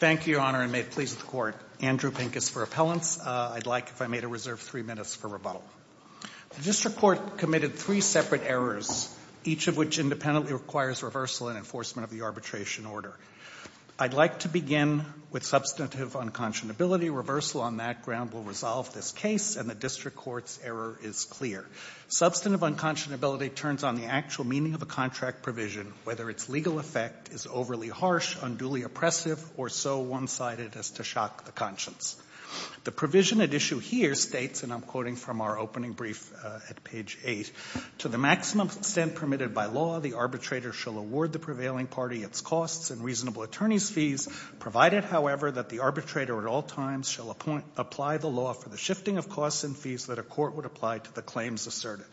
Thank you, Your Honor, and may it please the Court. Andrew Pincus for Appellants. I'd like, if I may, to reserve three minutes for rebuttal. The District Court committed three separate errors, each of which independently requires reversal and enforcement of the arbitration order. I'd like to begin with substantive unconscionability. Reversal on that ground will resolve this case, and the District Court's error is clear. Substantive unconscionability turns on the actual meaning of a contract provision, whether its legal effect is overly harsh, unduly oppressive, or so one-sided as to shock the conscience. The provision at issue here states, and I'm quoting from our opening brief at page 8, to the maximum extent permitted by law, the arbitrator shall award the prevailing party its costs and reasonable attorney's fees, provided, however, that the arbitrator at all times shall apply the law for the shifting of costs and fees that a court would apply to the claims asserted.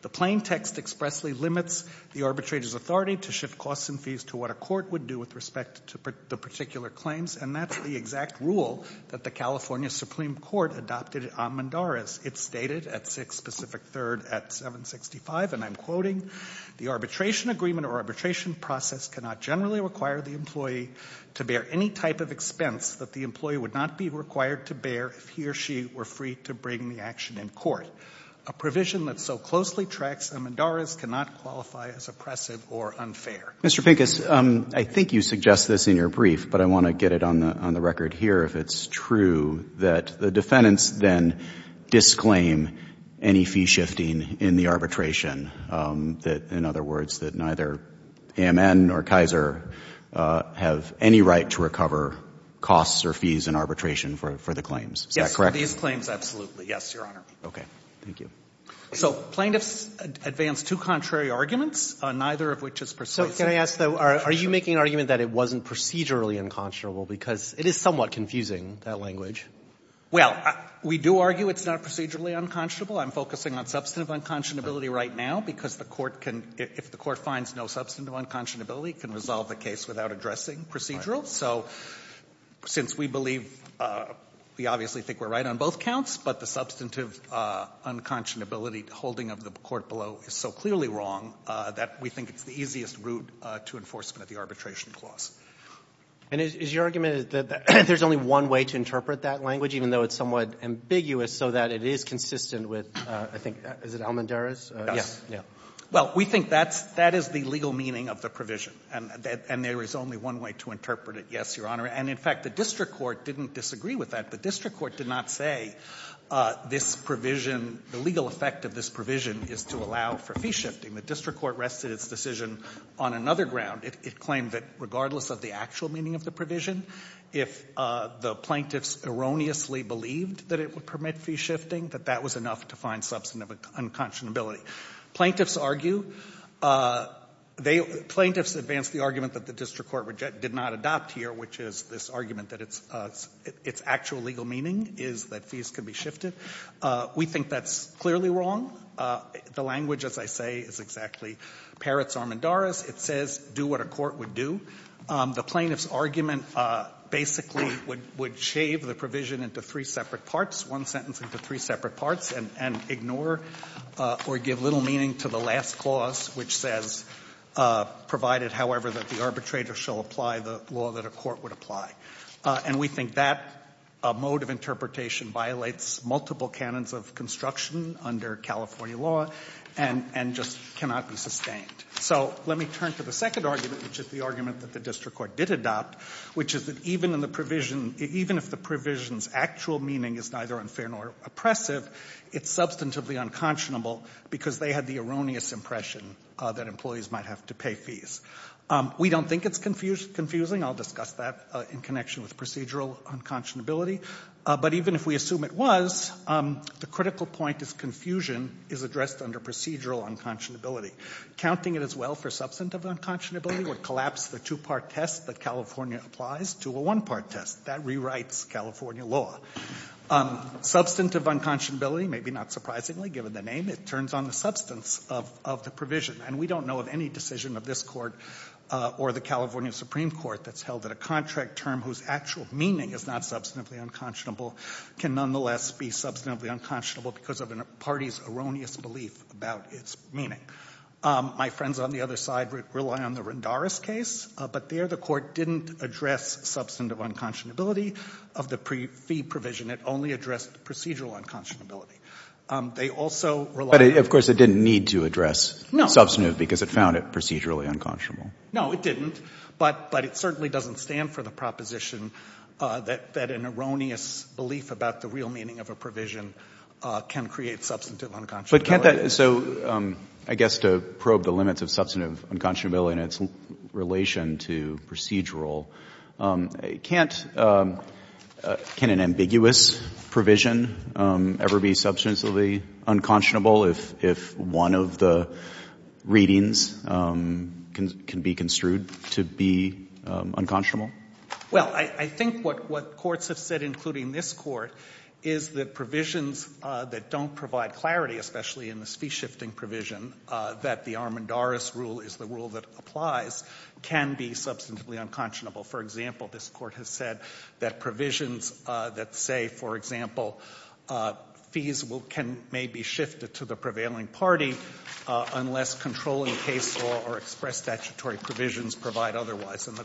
The plain text expressly limits the arbitrator's authority to shift costs and fees to what a court would do with respect to the particular claims, and that's the exact rule that the California Supreme Court adopted on Mendares. It's stated at 6 Pacific 3rd at 765, and I'm quoting, the arbitration agreement or arbitration process cannot generally require the employee to bear any type of expense that the employee would not be required to bear if he or she were free to bring the action in court. A provision that so closely tracks Mendares cannot qualify as oppressive or unfair. Mr. Pincus, I think you suggest this in your brief, but I want to get it on the record here, if it's true, that the defendants then disclaim any fee shifting in the arbitration, that, in other words, that neither AMN or Kaiser have any right to recover costs or fees in arbitration for the claims. Is that correct? Yes. These claims, absolutely. Yes, Your Honor. Okay. Thank you. So plaintiffs advance two contrary arguments, neither of which is persuasive. So can I ask, though, are you making an argument that it wasn't procedurally unconscionable because it is somewhat confusing, that language? Well, we do argue it's not procedurally unconscionable. I'm focusing on substantive unconscionability right now because the Court can, if the Court finds no substantive unconscionability, can resolve the case without addressing procedural. So since we believe, we obviously think we're right on both counts, but the substantive unconscionability holding of the Court below is so clearly wrong that we think it's the easiest route to enforcement of the arbitration clause. And is your argument that there's only one way to interpret that language, even though it's somewhat ambiguous, so that it is consistent with, I think, is it Almendarez? Yes. Well, we think that's the legal meaning of the provision, and there is only one way to interpret it, yes, Your Honor. And, in fact, the district court didn't disagree with that. The district court did not say this provision, the legal effect of this provision, would allow for fee shifting. The district court rested its decision on another ground. It claimed that regardless of the actual meaning of the provision, if the plaintiffs erroneously believed that it would permit fee shifting, that that was enough to find substantive unconscionability. Plaintiffs argue, they, plaintiffs advance the argument that the district court did not adopt here, which is this argument that it's actual legal meaning is that fees can be shifted. We think that's clearly wrong. The language, as I say, is exactly Peretz-Almendarez. It says, do what a court would do. The plaintiff's argument basically would shave the provision into three separate parts, one sentence into three separate parts, and ignore or give little meaning to the last clause, which says, provided, however, that the arbitrator shall apply the law that a court would apply. And we think that mode of interpretation violates multiple canons of construction under California law and just cannot be sustained. So let me turn to the second argument, which is the argument that the district court did adopt, which is that even if the provision's actual meaning is neither unfair nor oppressive, it's substantively unconscionable because they had the erroneous impression that employees might have to pay fees. We don't think it's confusing. I'll discuss that in connection with procedural unconscionability. But even if we assume it was, the critical point is confusion is addressed under procedural unconscionability. Counting it as well for substantive unconscionability would collapse the two-part test that California applies to a one-part test. That rewrites California law. Substantive unconscionability, maybe not surprisingly given the name, it turns on the substance of the provision. And we don't know of any decision of this court or the California Supreme Court that's held that a contract term whose actual meaning is not substantively unconscionable can nonetheless be substantively unconscionable because of a party's erroneous belief about its meaning. My friends on the other side rely on the Rendaris case. But there the court didn't address substantive unconscionability of the fee provision. It only addressed procedural unconscionability. They also rely on the... But, of course, it didn't need to address substantive because it found it procedurally unconscionable. No, it didn't. But it certainly doesn't stand for the proposition that an erroneous belief about the real meaning of a provision can create substantive unconscionability. But can't that... So I guess to probe the limits of substantive unconscionability in its relation to procedural, can't an ambiguous provision ever be substantively unconscionable if one of the readings can be construed to be unconscionable? Well, I think what courts have said, including this court, is that provisions that don't provide clarity, especially in this fee-shifting provision, that the Armendaris rule is the rule that applies, can be substantively unconscionable. For example, this court has said that provisions that say, for example, fees will be given may be shifted to the prevailing party unless controlling case law or express statutory provisions provide otherwise. And the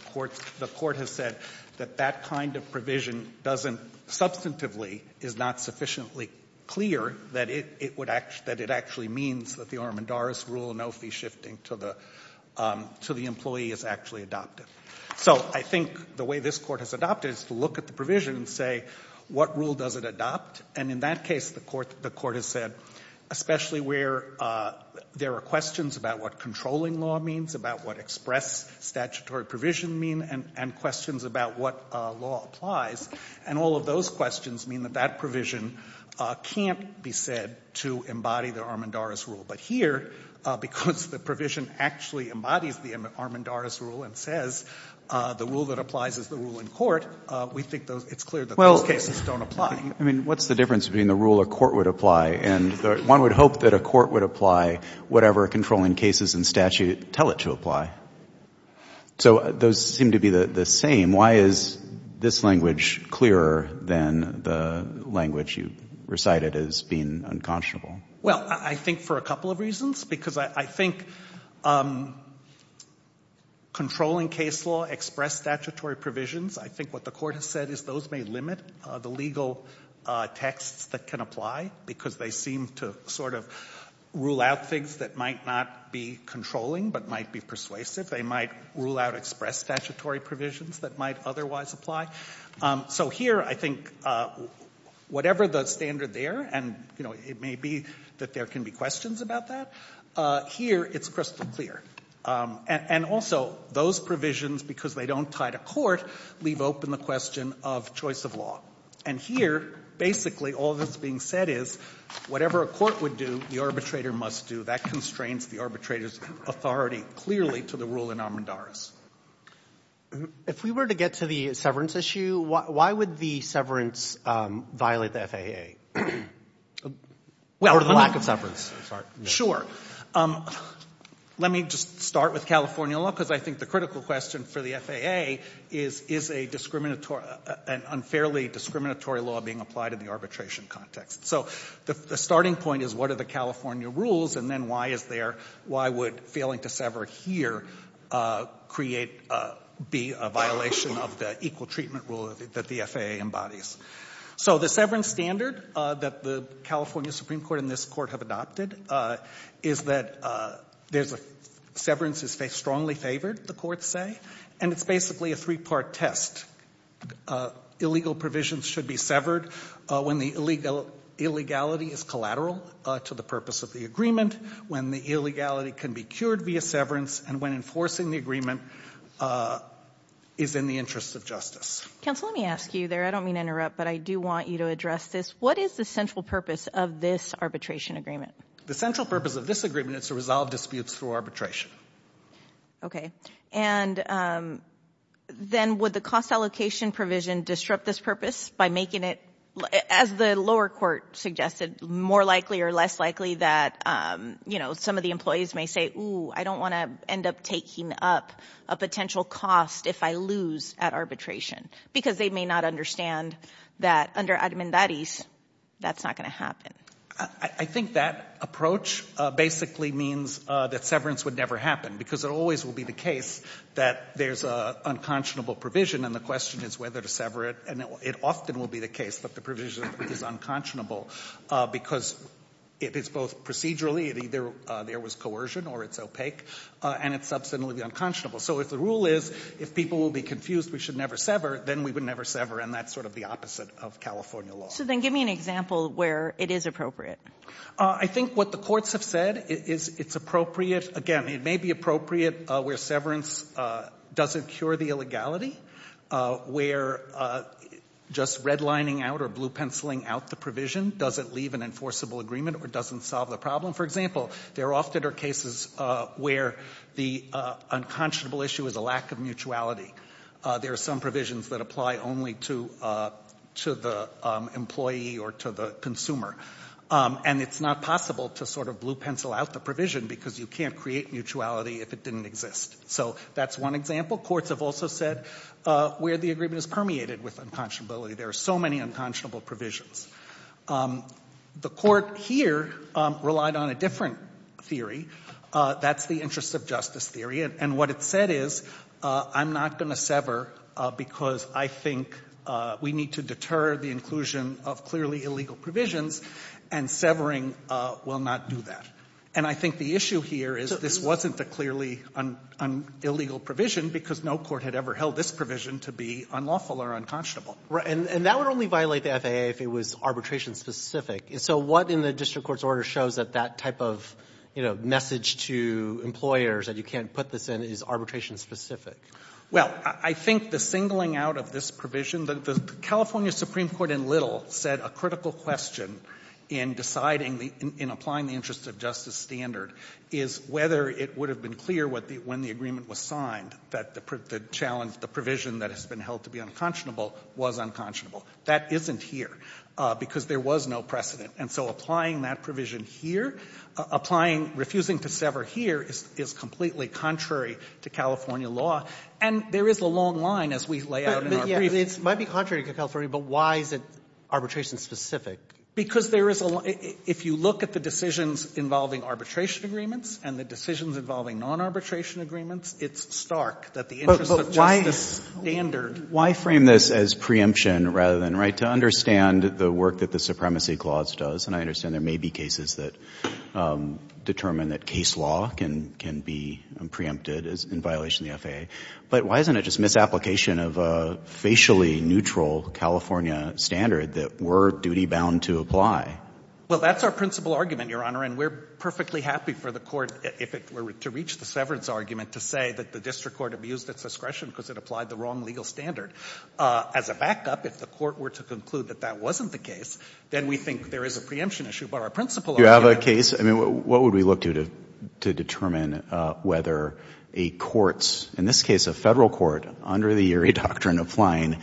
court has said that that kind of provision doesn't substantively, is not sufficiently clear that it actually means that the Armendaris rule, no fee shifting to the employee, is actually adopted. So I think the way this court has adopted it is to look at the provision and say, what rule does it adopt? And in that case, the court has said, especially where there are questions about what controlling law means, about what express statutory provision means, and questions about what law applies. And all of those questions mean that that provision can't be said to embody the Armendaris rule. But here, because the provision actually embodies the Armendaris rule and says the rule that applies is the rule in court, we think it's clear that those cases don't apply. Well, I mean, what's the difference between the rule a court would apply and one would hope that a court would apply whatever controlling cases and statute tell it to apply? So those seem to be the same. Why is this language clearer than the language you recited as being unconscionable? Well, I think for a couple of reasons. Because I think controlling case law, express statutory provisions, I think what the court has said is those may limit the legal texts that can apply because they seem to sort of rule out things that might not be controlling but might be persuasive. They might rule out express statutory provisions that might otherwise apply. So here I think whatever the standard there, and it may be that there can be questions about that, here it's crystal clear. And also those provisions, because they don't tie to court, leave open the question of choice of law. And here basically all that's being said is whatever a court would do, the arbitrator must do. That constrains the arbitrator's authority clearly to the rule in Armendaris. If we were to get to the severance issue, why would the severance violate the FAA? Well, or the lack of severance, I'm sorry. Sure. Let me just start with California law because I think the critical question for the FAA is, is an unfairly discriminatory law being applied in the arbitration context? So the starting point is what are the California rules and then why is there, why would failing to sever here be a violation of the equal treatment rule that the FAA embodies? So the severance standard that the California Supreme Court and this court have adopted is that severance is strongly favored, the courts say, and it's basically a three-part test. Illegal provisions should be severed when the illegality is collateral to the purpose of the agreement, when the illegality can be cured via severance, and when enforcing the agreement is in the interest of justice. Counsel, let me ask you there, I don't mean to interrupt, but I do want you to address this. What is the central purpose of this arbitration agreement? The central purpose of this agreement is to resolve disputes through arbitration. Okay. And then would the cost allocation provision disrupt this purpose by making it, as the lower court suggested, more likely or less likely that, you know, some of the employees may say, ooh, I don't want to end up taking up a potential cost if I lose at arbitration, because they may not understand that under armandadis that's not going to happen. I think that approach basically means that severance would never happen, because it always will be the case that there's an unconscionable provision and the question is whether to sever it, and it often will be the case that the provision is unconscionable, because it is both procedurally, either there was coercion or it's opaque, and it's subsequently unconscionable. So if the rule is if people will be confused, we should never sever, then we would never sever, and that's sort of the opposite of California law. So then give me an example where it is appropriate. I think what the courts have said is it's appropriate, again, it may be appropriate where severance doesn't cure the illegality, where just redlining out or blue penciling out the provision doesn't leave an enforceable agreement or doesn't solve the problem. For example, there often are cases where the unconscionable issue is a lack of mutuality. There are some provisions that apply only to the employee or to the consumer, and it's not possible to sort of blue pencil out the provision, because you can't create mutuality if it didn't exist. So that's one example. Courts have also said where the agreement is permeated with unconscionability. There are so many unconscionable provisions. The court here relied on a different theory. That's the interest of justice theory, and what it said is I'm not going to sever because I think we need to deter the inclusion of clearly illegal provisions, and severing will not do that. And I think the issue here is this wasn't the clearly illegal provision because no court had ever held this provision to be unlawful or unconscionable. And that would only violate the FAA if it was arbitration-specific. So what in the district court's order shows that that type of message to employers that you can't put this in is arbitration-specific? Well, I think the singling out of this provision, the California Supreme Court in Little said a critical question in deciding, in applying the interest of justice standard is whether it would have been clear when the agreement was signed that the challenge, the provision that has been held to be unconscionable was unconscionable. That isn't here because there was no precedent. And so applying that provision here, applying, refusing to sever here is completely contrary to California law. And there is a long line as we lay out in our brief. It might be contrary to California, but why is it arbitration-specific? Because there is a lot of, if you look at the decisions involving arbitration agreements and the decisions involving non-arbitration agreements, it's stark that the interest of justice standard. But why frame this as preemption rather than, right, to understand the work that the Supremacy Clause does, and I understand there may be cases that determine that case law can be preempted in violation of the FAA, but why isn't it just application of a facially neutral California standard that we're duty-bound to apply? Well, that's our principal argument, Your Honor, and we're perfectly happy for the court, if it were to reach the severance argument, to say that the district court abused its discretion because it applied the wrong legal standard. As a backup, if the court were to conclude that that wasn't the case, then we think there is a preemption issue. But our principal argument is that there is a preemption issue. You have a case? I mean, what would we look to to determine whether a court's, in this case a Federal court, under the Urey Doctrine, applying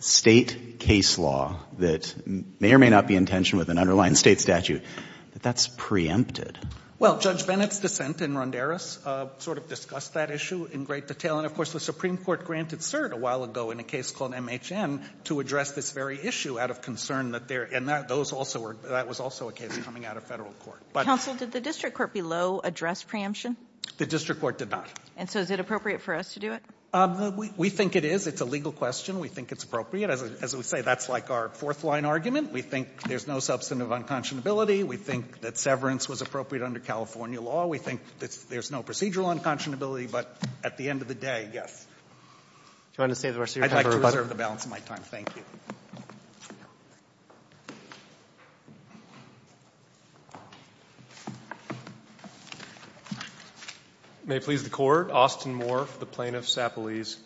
State case law that may or may not be in tension with an underlying State statute, that that's preempted? Well, Judge Bennett's dissent in Ronderos sort of discussed that issue in great detail, and of course the Supreme Court granted cert a while ago in a case called MHN to address this very issue out of concern that there — and that was also a case coming out of Federal court. Counsel, did the district court below address preemption? The district court did not. And so is it appropriate for us to do it? We think it is. It's a legal question. We think it's appropriate. As we say, that's like our fourth-line argument. We think there's no substantive unconscionability. We think that severance was appropriate under California law. We think there's no procedural unconscionability. But at the end of the day, yes. Do you want to say the rest of your time? I'd like to reserve the balance of my time. Thank you. May it please the Court. Austin Moore for the plaintiff, Sapolis.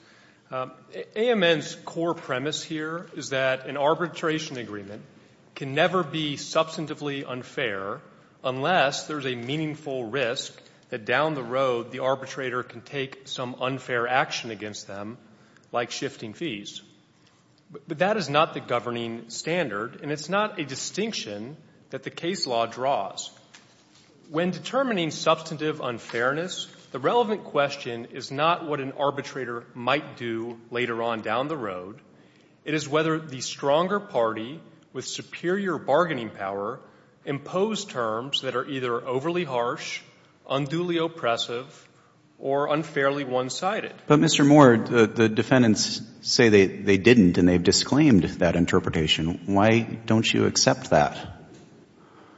AMN's core premise here is that an arbitration agreement can never be substantively unfair unless there's a meaningful risk that down the road the arbitrator can take some unfair action against them, like shifting fees. But that is not the governing standard, and it's not a distinction that the case law draws. When determining substantive unfairness, the relevant question is not what an arbitrator might do later on down the road. It is whether the stronger party with superior bargaining power impose terms that are either overly harsh, unduly oppressive, or unfairly one-sided. But, Mr. Moore, the defendants say they didn't, and they've disclaimed that interpretation. Why don't you accept that?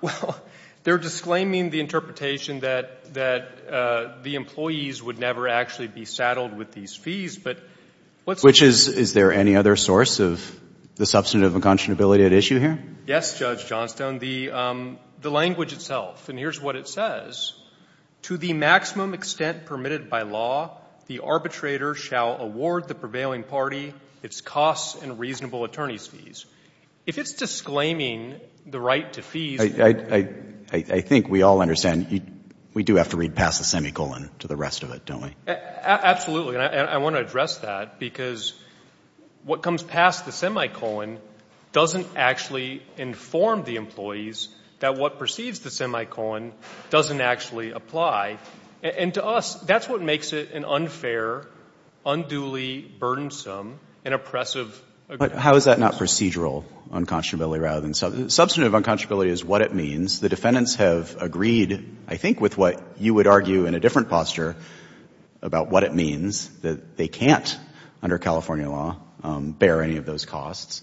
Well, they're disclaiming the interpretation that the employees would never actually be saddled with these fees, but what's the difference? Which is, is there any other source of the substantive unconscionability at issue here? Yes, Judge Johnstone. The language itself, and here's what it says. To the maximum extent permitted by law, the arbitrator shall award the prevailing party its costs and reasonable attorney's fees. If it's disclaiming the right to fees— I think we all understand. We do have to read past the semicolon to the rest of it, don't we? Absolutely, and I want to address that, because what comes past the semicolon doesn't actually inform the employees that what precedes the semicolon doesn't actually apply, and to us, that's what makes it an unfair, unduly burdensome and oppressive— But how is that not procedural unconscionability rather than substantive? Substantive unconscionability is what it means. The defendants have agreed, I think, with what you would argue in a different posture about what it means, that they can't, under California law, bear any of those costs.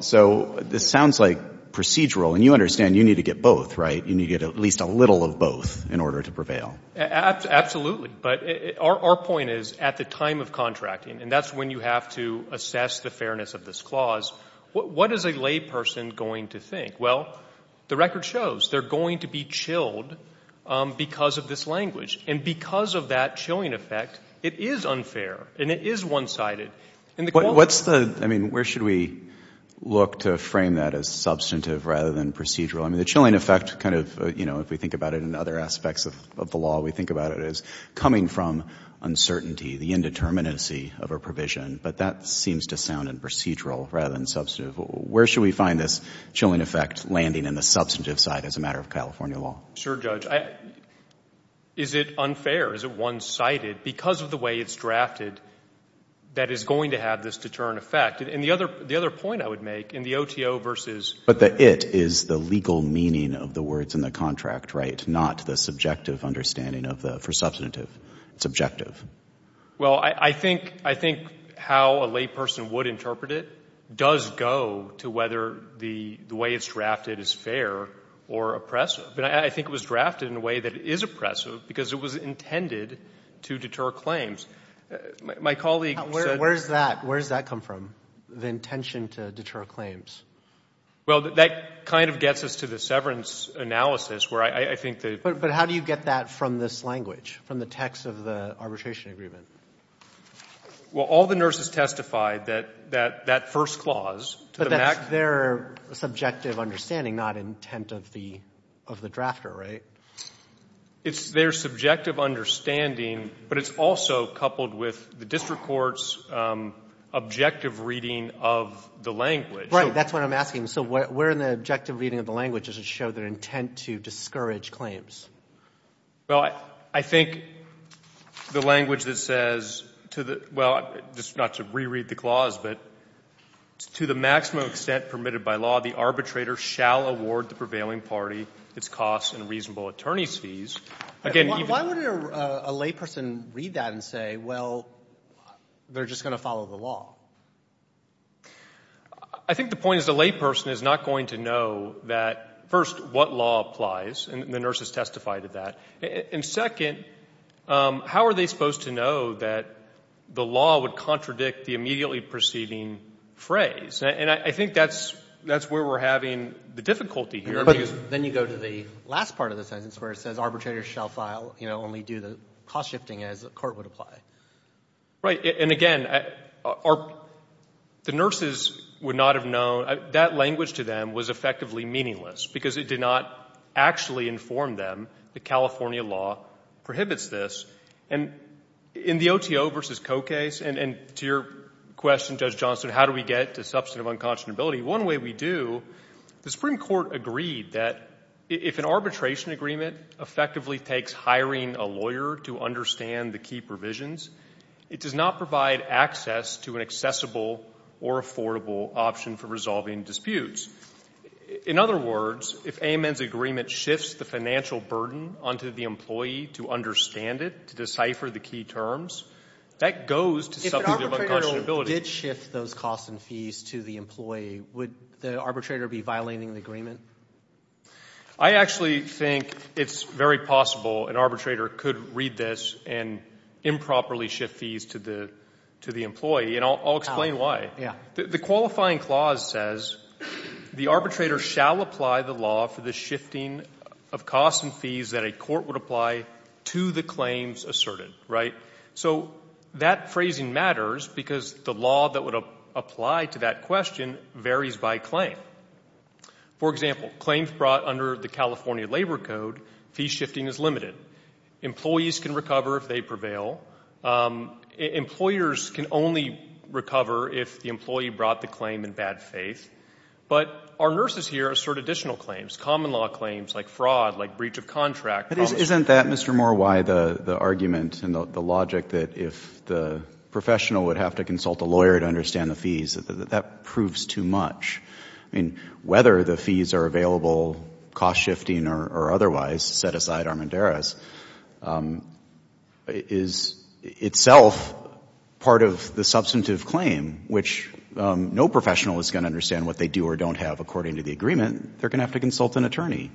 So this sounds like procedural, and you understand you need to get both, right? You need to get at least a little of both in order to prevail. Absolutely. But our point is, at the time of contracting, and that's when you have to assess the fairness of this clause, what is a layperson going to think? Well, the record shows they're going to be chilled because of this language. And because of that chilling effect, it is unfair, and it is one-sided. What's the—I mean, where should we look to frame that as substantive rather than procedural? I mean, the chilling effect kind of, you know, if we think about it in other aspects of the law, we think about it as coming from uncertainty, the indeterminacy of a provision. But that seems to sound in procedural rather than substantive. Where should we find this chilling effect landing in the substantive side as a matter of California law? Sure, Judge. Is it unfair? Is it one-sided? Because of the way it's drafted, that is going to have this deterrent effect. And the other point I would make, in the OTO versus— But the it is the legal meaning of the words in the contract, right, not the subjective understanding of the—for substantive, it's objective. Well, I think how a layperson would interpret it does go to whether the way it's drafted is fair or oppressive. But I think it was drafted in a way that is oppressive because it was intended to deter claims. My colleague said— Where does that come from, the intention to deter claims? Well, that kind of gets us to the severance analysis, where I think the— But how do you get that from this language, from the text of the arbitration agreement? Well, all the nurses testified that that first clause— But that's their subjective understanding, not intent of the drafter, right? It's their subjective understanding, but it's also coupled with the district court's objective reading of the language. Right, that's what I'm asking. So where in the objective reading of the language does it show their intent to discourage claims? Well, I think the language that says to the—well, just not to re-read the clause, but to the maximum extent permitted by law, the arbitrator shall award the prevailing party its costs and reasonable attorney's fees. Again, even— Why would a layperson read that and say, well, they're just going to follow the law? I think the point is the layperson is not going to know that, first, what law applies, and the nurses testified to that. And second, how are they supposed to know that the law would contradict the immediately preceding phrase? And I think that's where we're having the difficulty here. But then you go to the last part of the sentence, where it says arbitrators shall file—only do the cost shifting as the court would apply. Right. And, again, the nurses would not have known—that language to them was effectively meaningless because it did not actually inform them that California law prohibits this. And in the OTO versus Coe case, and to your question, Judge Johnson, how do we get to substantive unconscionability? One way we do, the Supreme Court agreed that if an arbitration agreement effectively takes hiring a lawyer to understand the key provisions, it does not provide access to an accessible or affordable option for resolving disputes. In other words, if AMEN's agreement shifts the financial burden onto the employee to understand it, to decipher the key terms, that goes to substantive unconscionability. If an arbitrator did shift those costs and fees to the employee, would the arbitrator be violating the agreement? I actually think it's very possible an arbitrator could read this and improperly shift fees to the employee, and I'll explain why. The qualifying clause says, the arbitrator shall apply the law for the shifting of costs and fees that a court would apply to the claims asserted. Right? So that phrasing matters because the law that would apply to that question varies by claim. For example, claims brought under the California Labor Code, fee shifting is limited. Employees can recover if they prevail. Employers can only recover if the employee brought the claim in bad faith. But our nurses here assert additional claims, common law claims like fraud, like breach of contract. But isn't that, Mr. Moore, why the argument and the logic that if the professional would have to consult a lawyer to understand the fees, that that proves too much? I mean, whether the fees are available, cost shifting or otherwise, set aside Armendariz, is itself part of the substantive claim, which no professional is going to understand what they do or don't have according to the agreement. They're going to have to consult an attorney.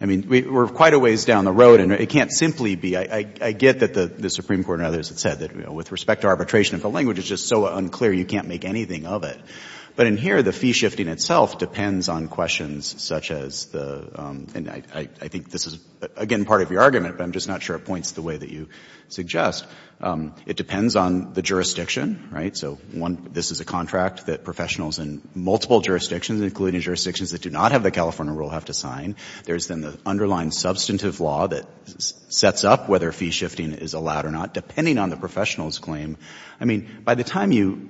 I mean, we're quite a ways down the road, and it can't simply be. I get that the Supreme Court and others have said that, you know, with respect to arbitration, if the language is just so unclear, you can't make anything of it. But in here, the fee shifting itself depends on questions such as the, and I think this is, again, part of your argument, but I'm just not sure it points the way that you suggest. It depends on the jurisdiction, right? So one, this is a contract that professionals in multiple jurisdictions, including jurisdictions that do not have the California rule, have to sign. There's then the underlying substantive law that sets up whether fee shifting is allowed or not, depending on the professional's claim. I mean, by the time you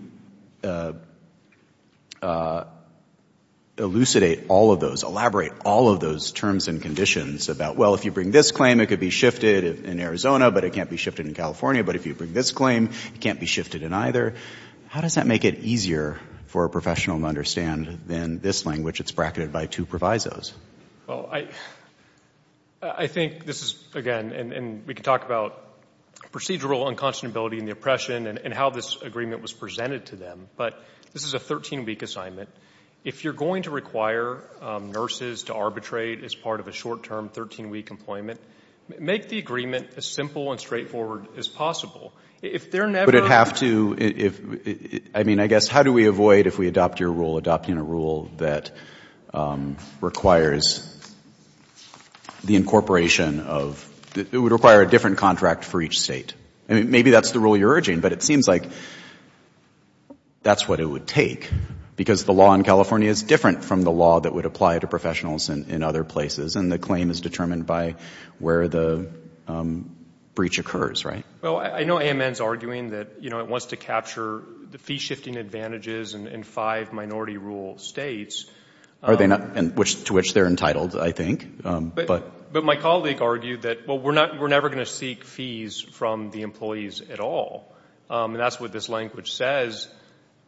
elucidate all of those, elaborate all of those terms and conditions about, well, if you bring this claim, it could be shifted in Arizona, but it can't be shifted in California. But if you bring this claim, it can't be shifted in either. How does that make it easier for a professional to understand than this language that's bracketed by two provisos? Well, I think this is, again, and we can talk about procedural unconscionability and the oppression and how this agreement was presented to them. But this is a 13-week assignment. If you're going to require nurses to arbitrate as part of a short-term 13-week employment, make the agreement as simple and straightforward as possible. If they're never... Would it have to, I mean, I guess, how do we avoid, if we adopt your rule, adopting a rule that requires the incorporation of, it would require a different contract for each state? I mean, maybe that's the rule you're urging, but it seems like that's what it would take, because the law in California is different from the law that would apply to professionals in other places, and the claim is determined by where the breach occurs, right? Well, I know AMN's arguing that it wants to capture the fee-shifting advantages in five minority-rule states. Are they not? To which they're entitled, I think. But my colleague argued that, well, we're never going to seek fees from the employees at all. And that's what this language says.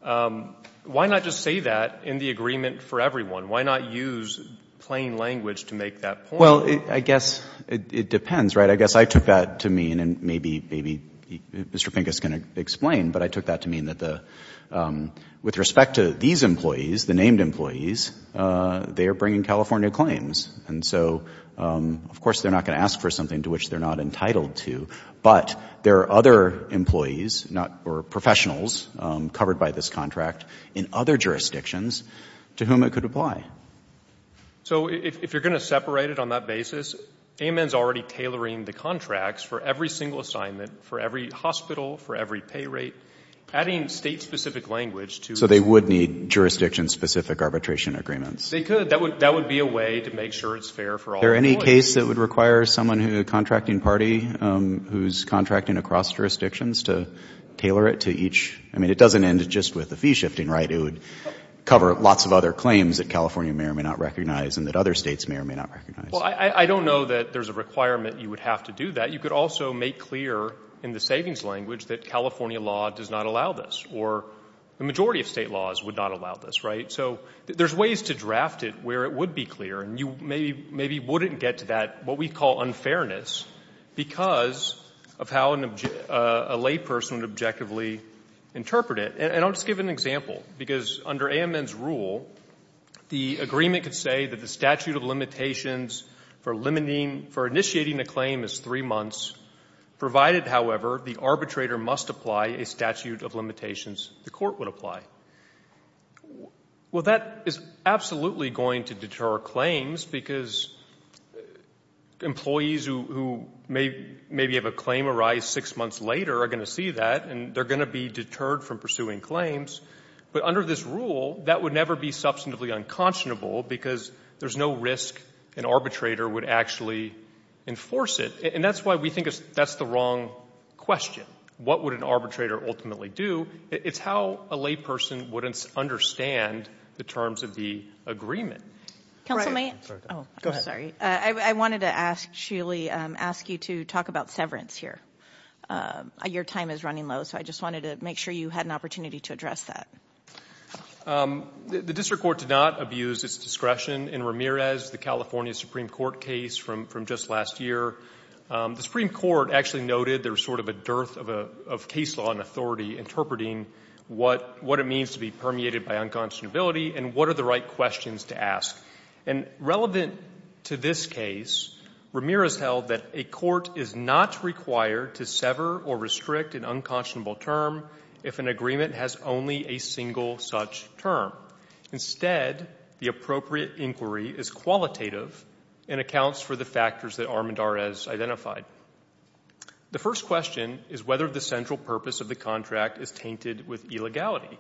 Why not just say that in the agreement for everyone? Why not use plain language to make that point? Well, I guess it depends, right? I guess I took that to mean, and maybe Mr. Pincus can explain, but I took that to mean that with respect to these employees, the named employees, they are bringing California claims. And so, of course, they're not going to ask for something to which they're not entitled to, but there are other employees or professionals covered by this contract in other jurisdictions to whom it could apply. So if you're going to separate it on that basis, AMN's already tailoring the contracts for every single assignment, for every hospital, for every pay rate, adding state-specific language to it. So they would need jurisdiction-specific arbitration agreements. They could. That would be a way to make sure it's fair for all employees. Is there any case that would require someone in a contracting party who's contracting across jurisdictions to tailor it to each? I mean, it doesn't end just with the fee-shifting, right? It would cover lots of other claims that California may or may not recognize and that other states may or may not recognize. Well, I don't know that there's a requirement you would have to do that. You could also make clear in the savings language that California law does not allow this, or the majority of state laws would not allow this, right? So there's ways to draft it where it would be clear, and you maybe wouldn't get to that, what we call unfairness, because of how a layperson would objectively interpret it. And I'll just give an example, because under AMN's rule, the agreement could say that the statute of limitations for initiating a claim is three months, provided, however, the arbitrator must apply a statute of limitations the court would apply. Well, that is absolutely going to deter claims, because employees who maybe have a claim arise six months later are going to see that, and they're going to be deterred from pursuing claims. But under this rule, that would never be substantively unconscionable, because there's no risk an arbitrator would actually enforce it. And that's why we think that's the wrong question. What would an arbitrator ultimately do? It's how a layperson would understand the terms of the agreement. Counsel, may I? Go ahead. I'm sorry. I wanted to actually ask you to talk about severance here. Your time is running low, so I just wanted to make sure you had an opportunity to address that. The district court did not abuse its discretion in Ramirez, the California Supreme Court case from just last year. The Supreme Court actually noted there was sort of a dearth of case law and authority interpreting what it means to be permeated by unconscionability and what are the right questions to ask. And relevant to this case, Ramirez held that a court is not required to sever or restrict an unconscionable term if an agreement has only a single such term. Instead, the appropriate inquiry is qualitative and accounts for the factors that Armendariz identified. The first question is whether the central purpose of the contract is tainted with illegality.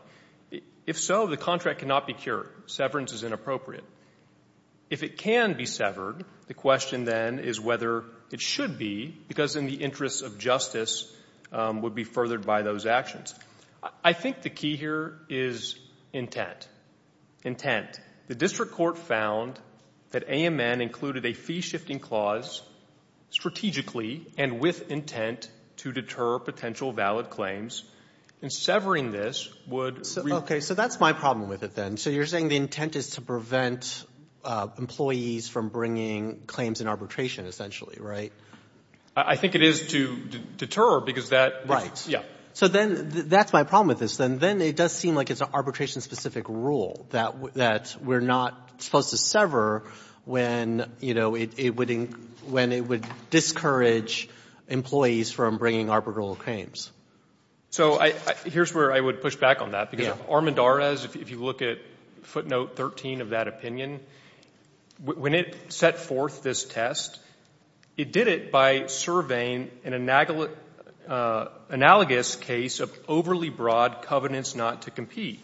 If so, the contract cannot be cured. Severance is inappropriate. If it can be severed, the question then is whether it should be because in the interests of justice would be furthered by those actions. I think the key here is intent. Intent. The district court found that AMN included a fee-shifting clause strategically and with intent to deter potential valid claims. And severing this would be ---- Okay. So that's my problem with it then. So you're saying the intent is to prevent employees from bringing claims in arbitration, essentially, right? I think it is to deter because that ---- Right. Yeah. So then that's my problem with this. And then it does seem like it's an arbitration-specific rule that we're not supposed to sever when, you know, it would discourage employees from bringing arbitral claims. So here's where I would push back on that because Armendariz, if you look at footnote 13 of that opinion, when it set forth this test, it did it by surveying an analogous case of overly broad covenants not to compete.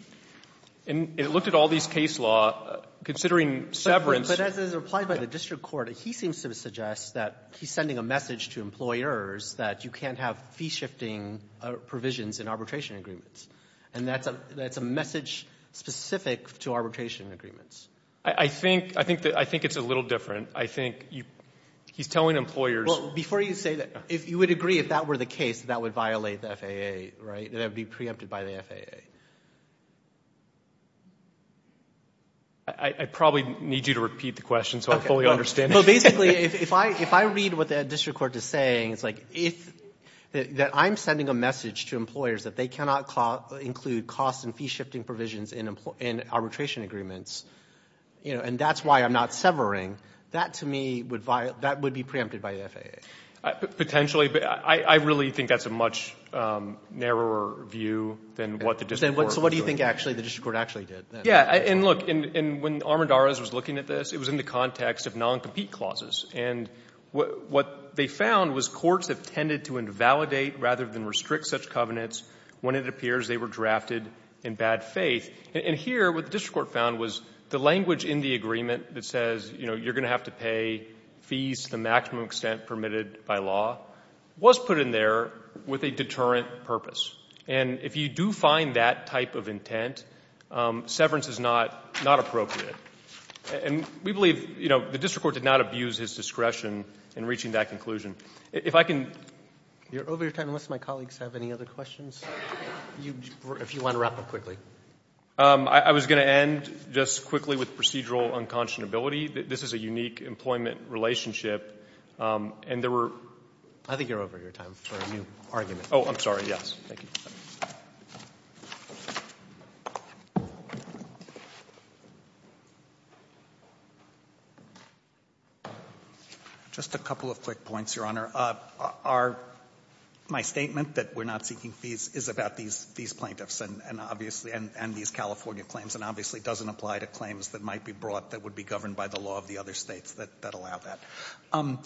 And it looked at all these case law, considering severance ---- But as it's replied by the district court, he seems to suggest that he's sending a message to employers that you can't have fee-shifting provisions in arbitration agreements. And that's a message specific to arbitration agreements. I think it's a little different. I think he's telling employers ---- Well, before you say that, you would agree if that were the case, that would violate the FAA, right, that it would be preempted by the FAA? I probably need you to repeat the question so I fully understand it. Well, basically, if I read what the district court is saying, it's like if that I'm sending a message to employers that they cannot include cost and fee-shifting provisions in arbitration agreements, you know, and that's why I'm not severing, that to me would violate ---- that would be preempted by the FAA. Potentially. But I really think that's a much narrower view than what the district court ---- So what do you think actually the district court actually did? Yeah. And look, when Armendariz was looking at this, it was in the context of non-compete clauses. And what they found was courts have tended to invalidate rather than restrict such covenants when it appears they were drafted in bad faith. And here what the district court found was the language in the agreement that says, you know, you're going to have to pay fees to the maximum extent permitted by law was put in there with a deterrent purpose. And if you do find that type of intent, severance is not appropriate. And we believe, you know, the district court did not abuse his discretion in reaching that conclusion. If I can ---- You're over your time. Unless my colleagues have any other questions, if you want to wrap up quickly. I was going to end just quickly with procedural unconscionability. This is a unique employment relationship. And there were ---- I think you're over your time for a new argument. Oh, I'm sorry, yes. Thank you. Just a couple of quick points, Your Honor. Our ---- my statement that we're not seeking fees is about these plaintiffs. And obviously, and these California claims. And obviously, it doesn't apply to claims that might be brought that would be governed by the law of the other states that allow that.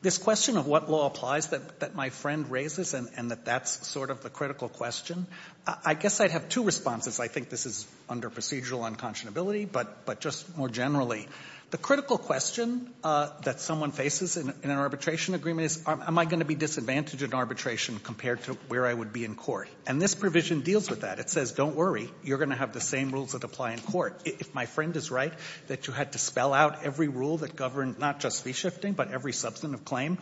This question of what law applies that my friend raises, and that that's sort of the critical question, I guess I'd have two responses. I think this is under procedural unconscionability. But just more generally, the critical question that someone faces in an arbitration agreement is, am I going to be disadvantaged in arbitration compared to where I would be in court? And this provision deals with that. It says, don't worry. You're going to have the same rules that apply in court. If my friend is right that you had to spell out every rule that governed not just fee shifting but every substantive claim,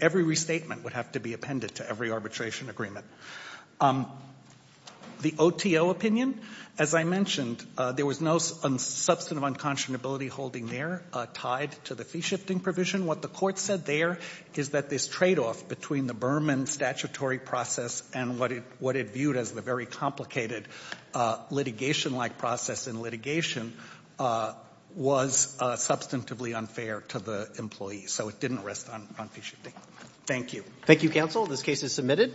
every restatement would have to be appended to every arbitration agreement. The OTO opinion, as I mentioned, there was no substantive unconscionability holding there tied to the fee shifting provision. What the court said there is that this tradeoff between the Berman statutory process and what it viewed as the very complicated litigation-like process in litigation was substantively unfair to the employee. So it didn't rest on fee shifting. Thank you. Thank you, counsel. This case is submitted.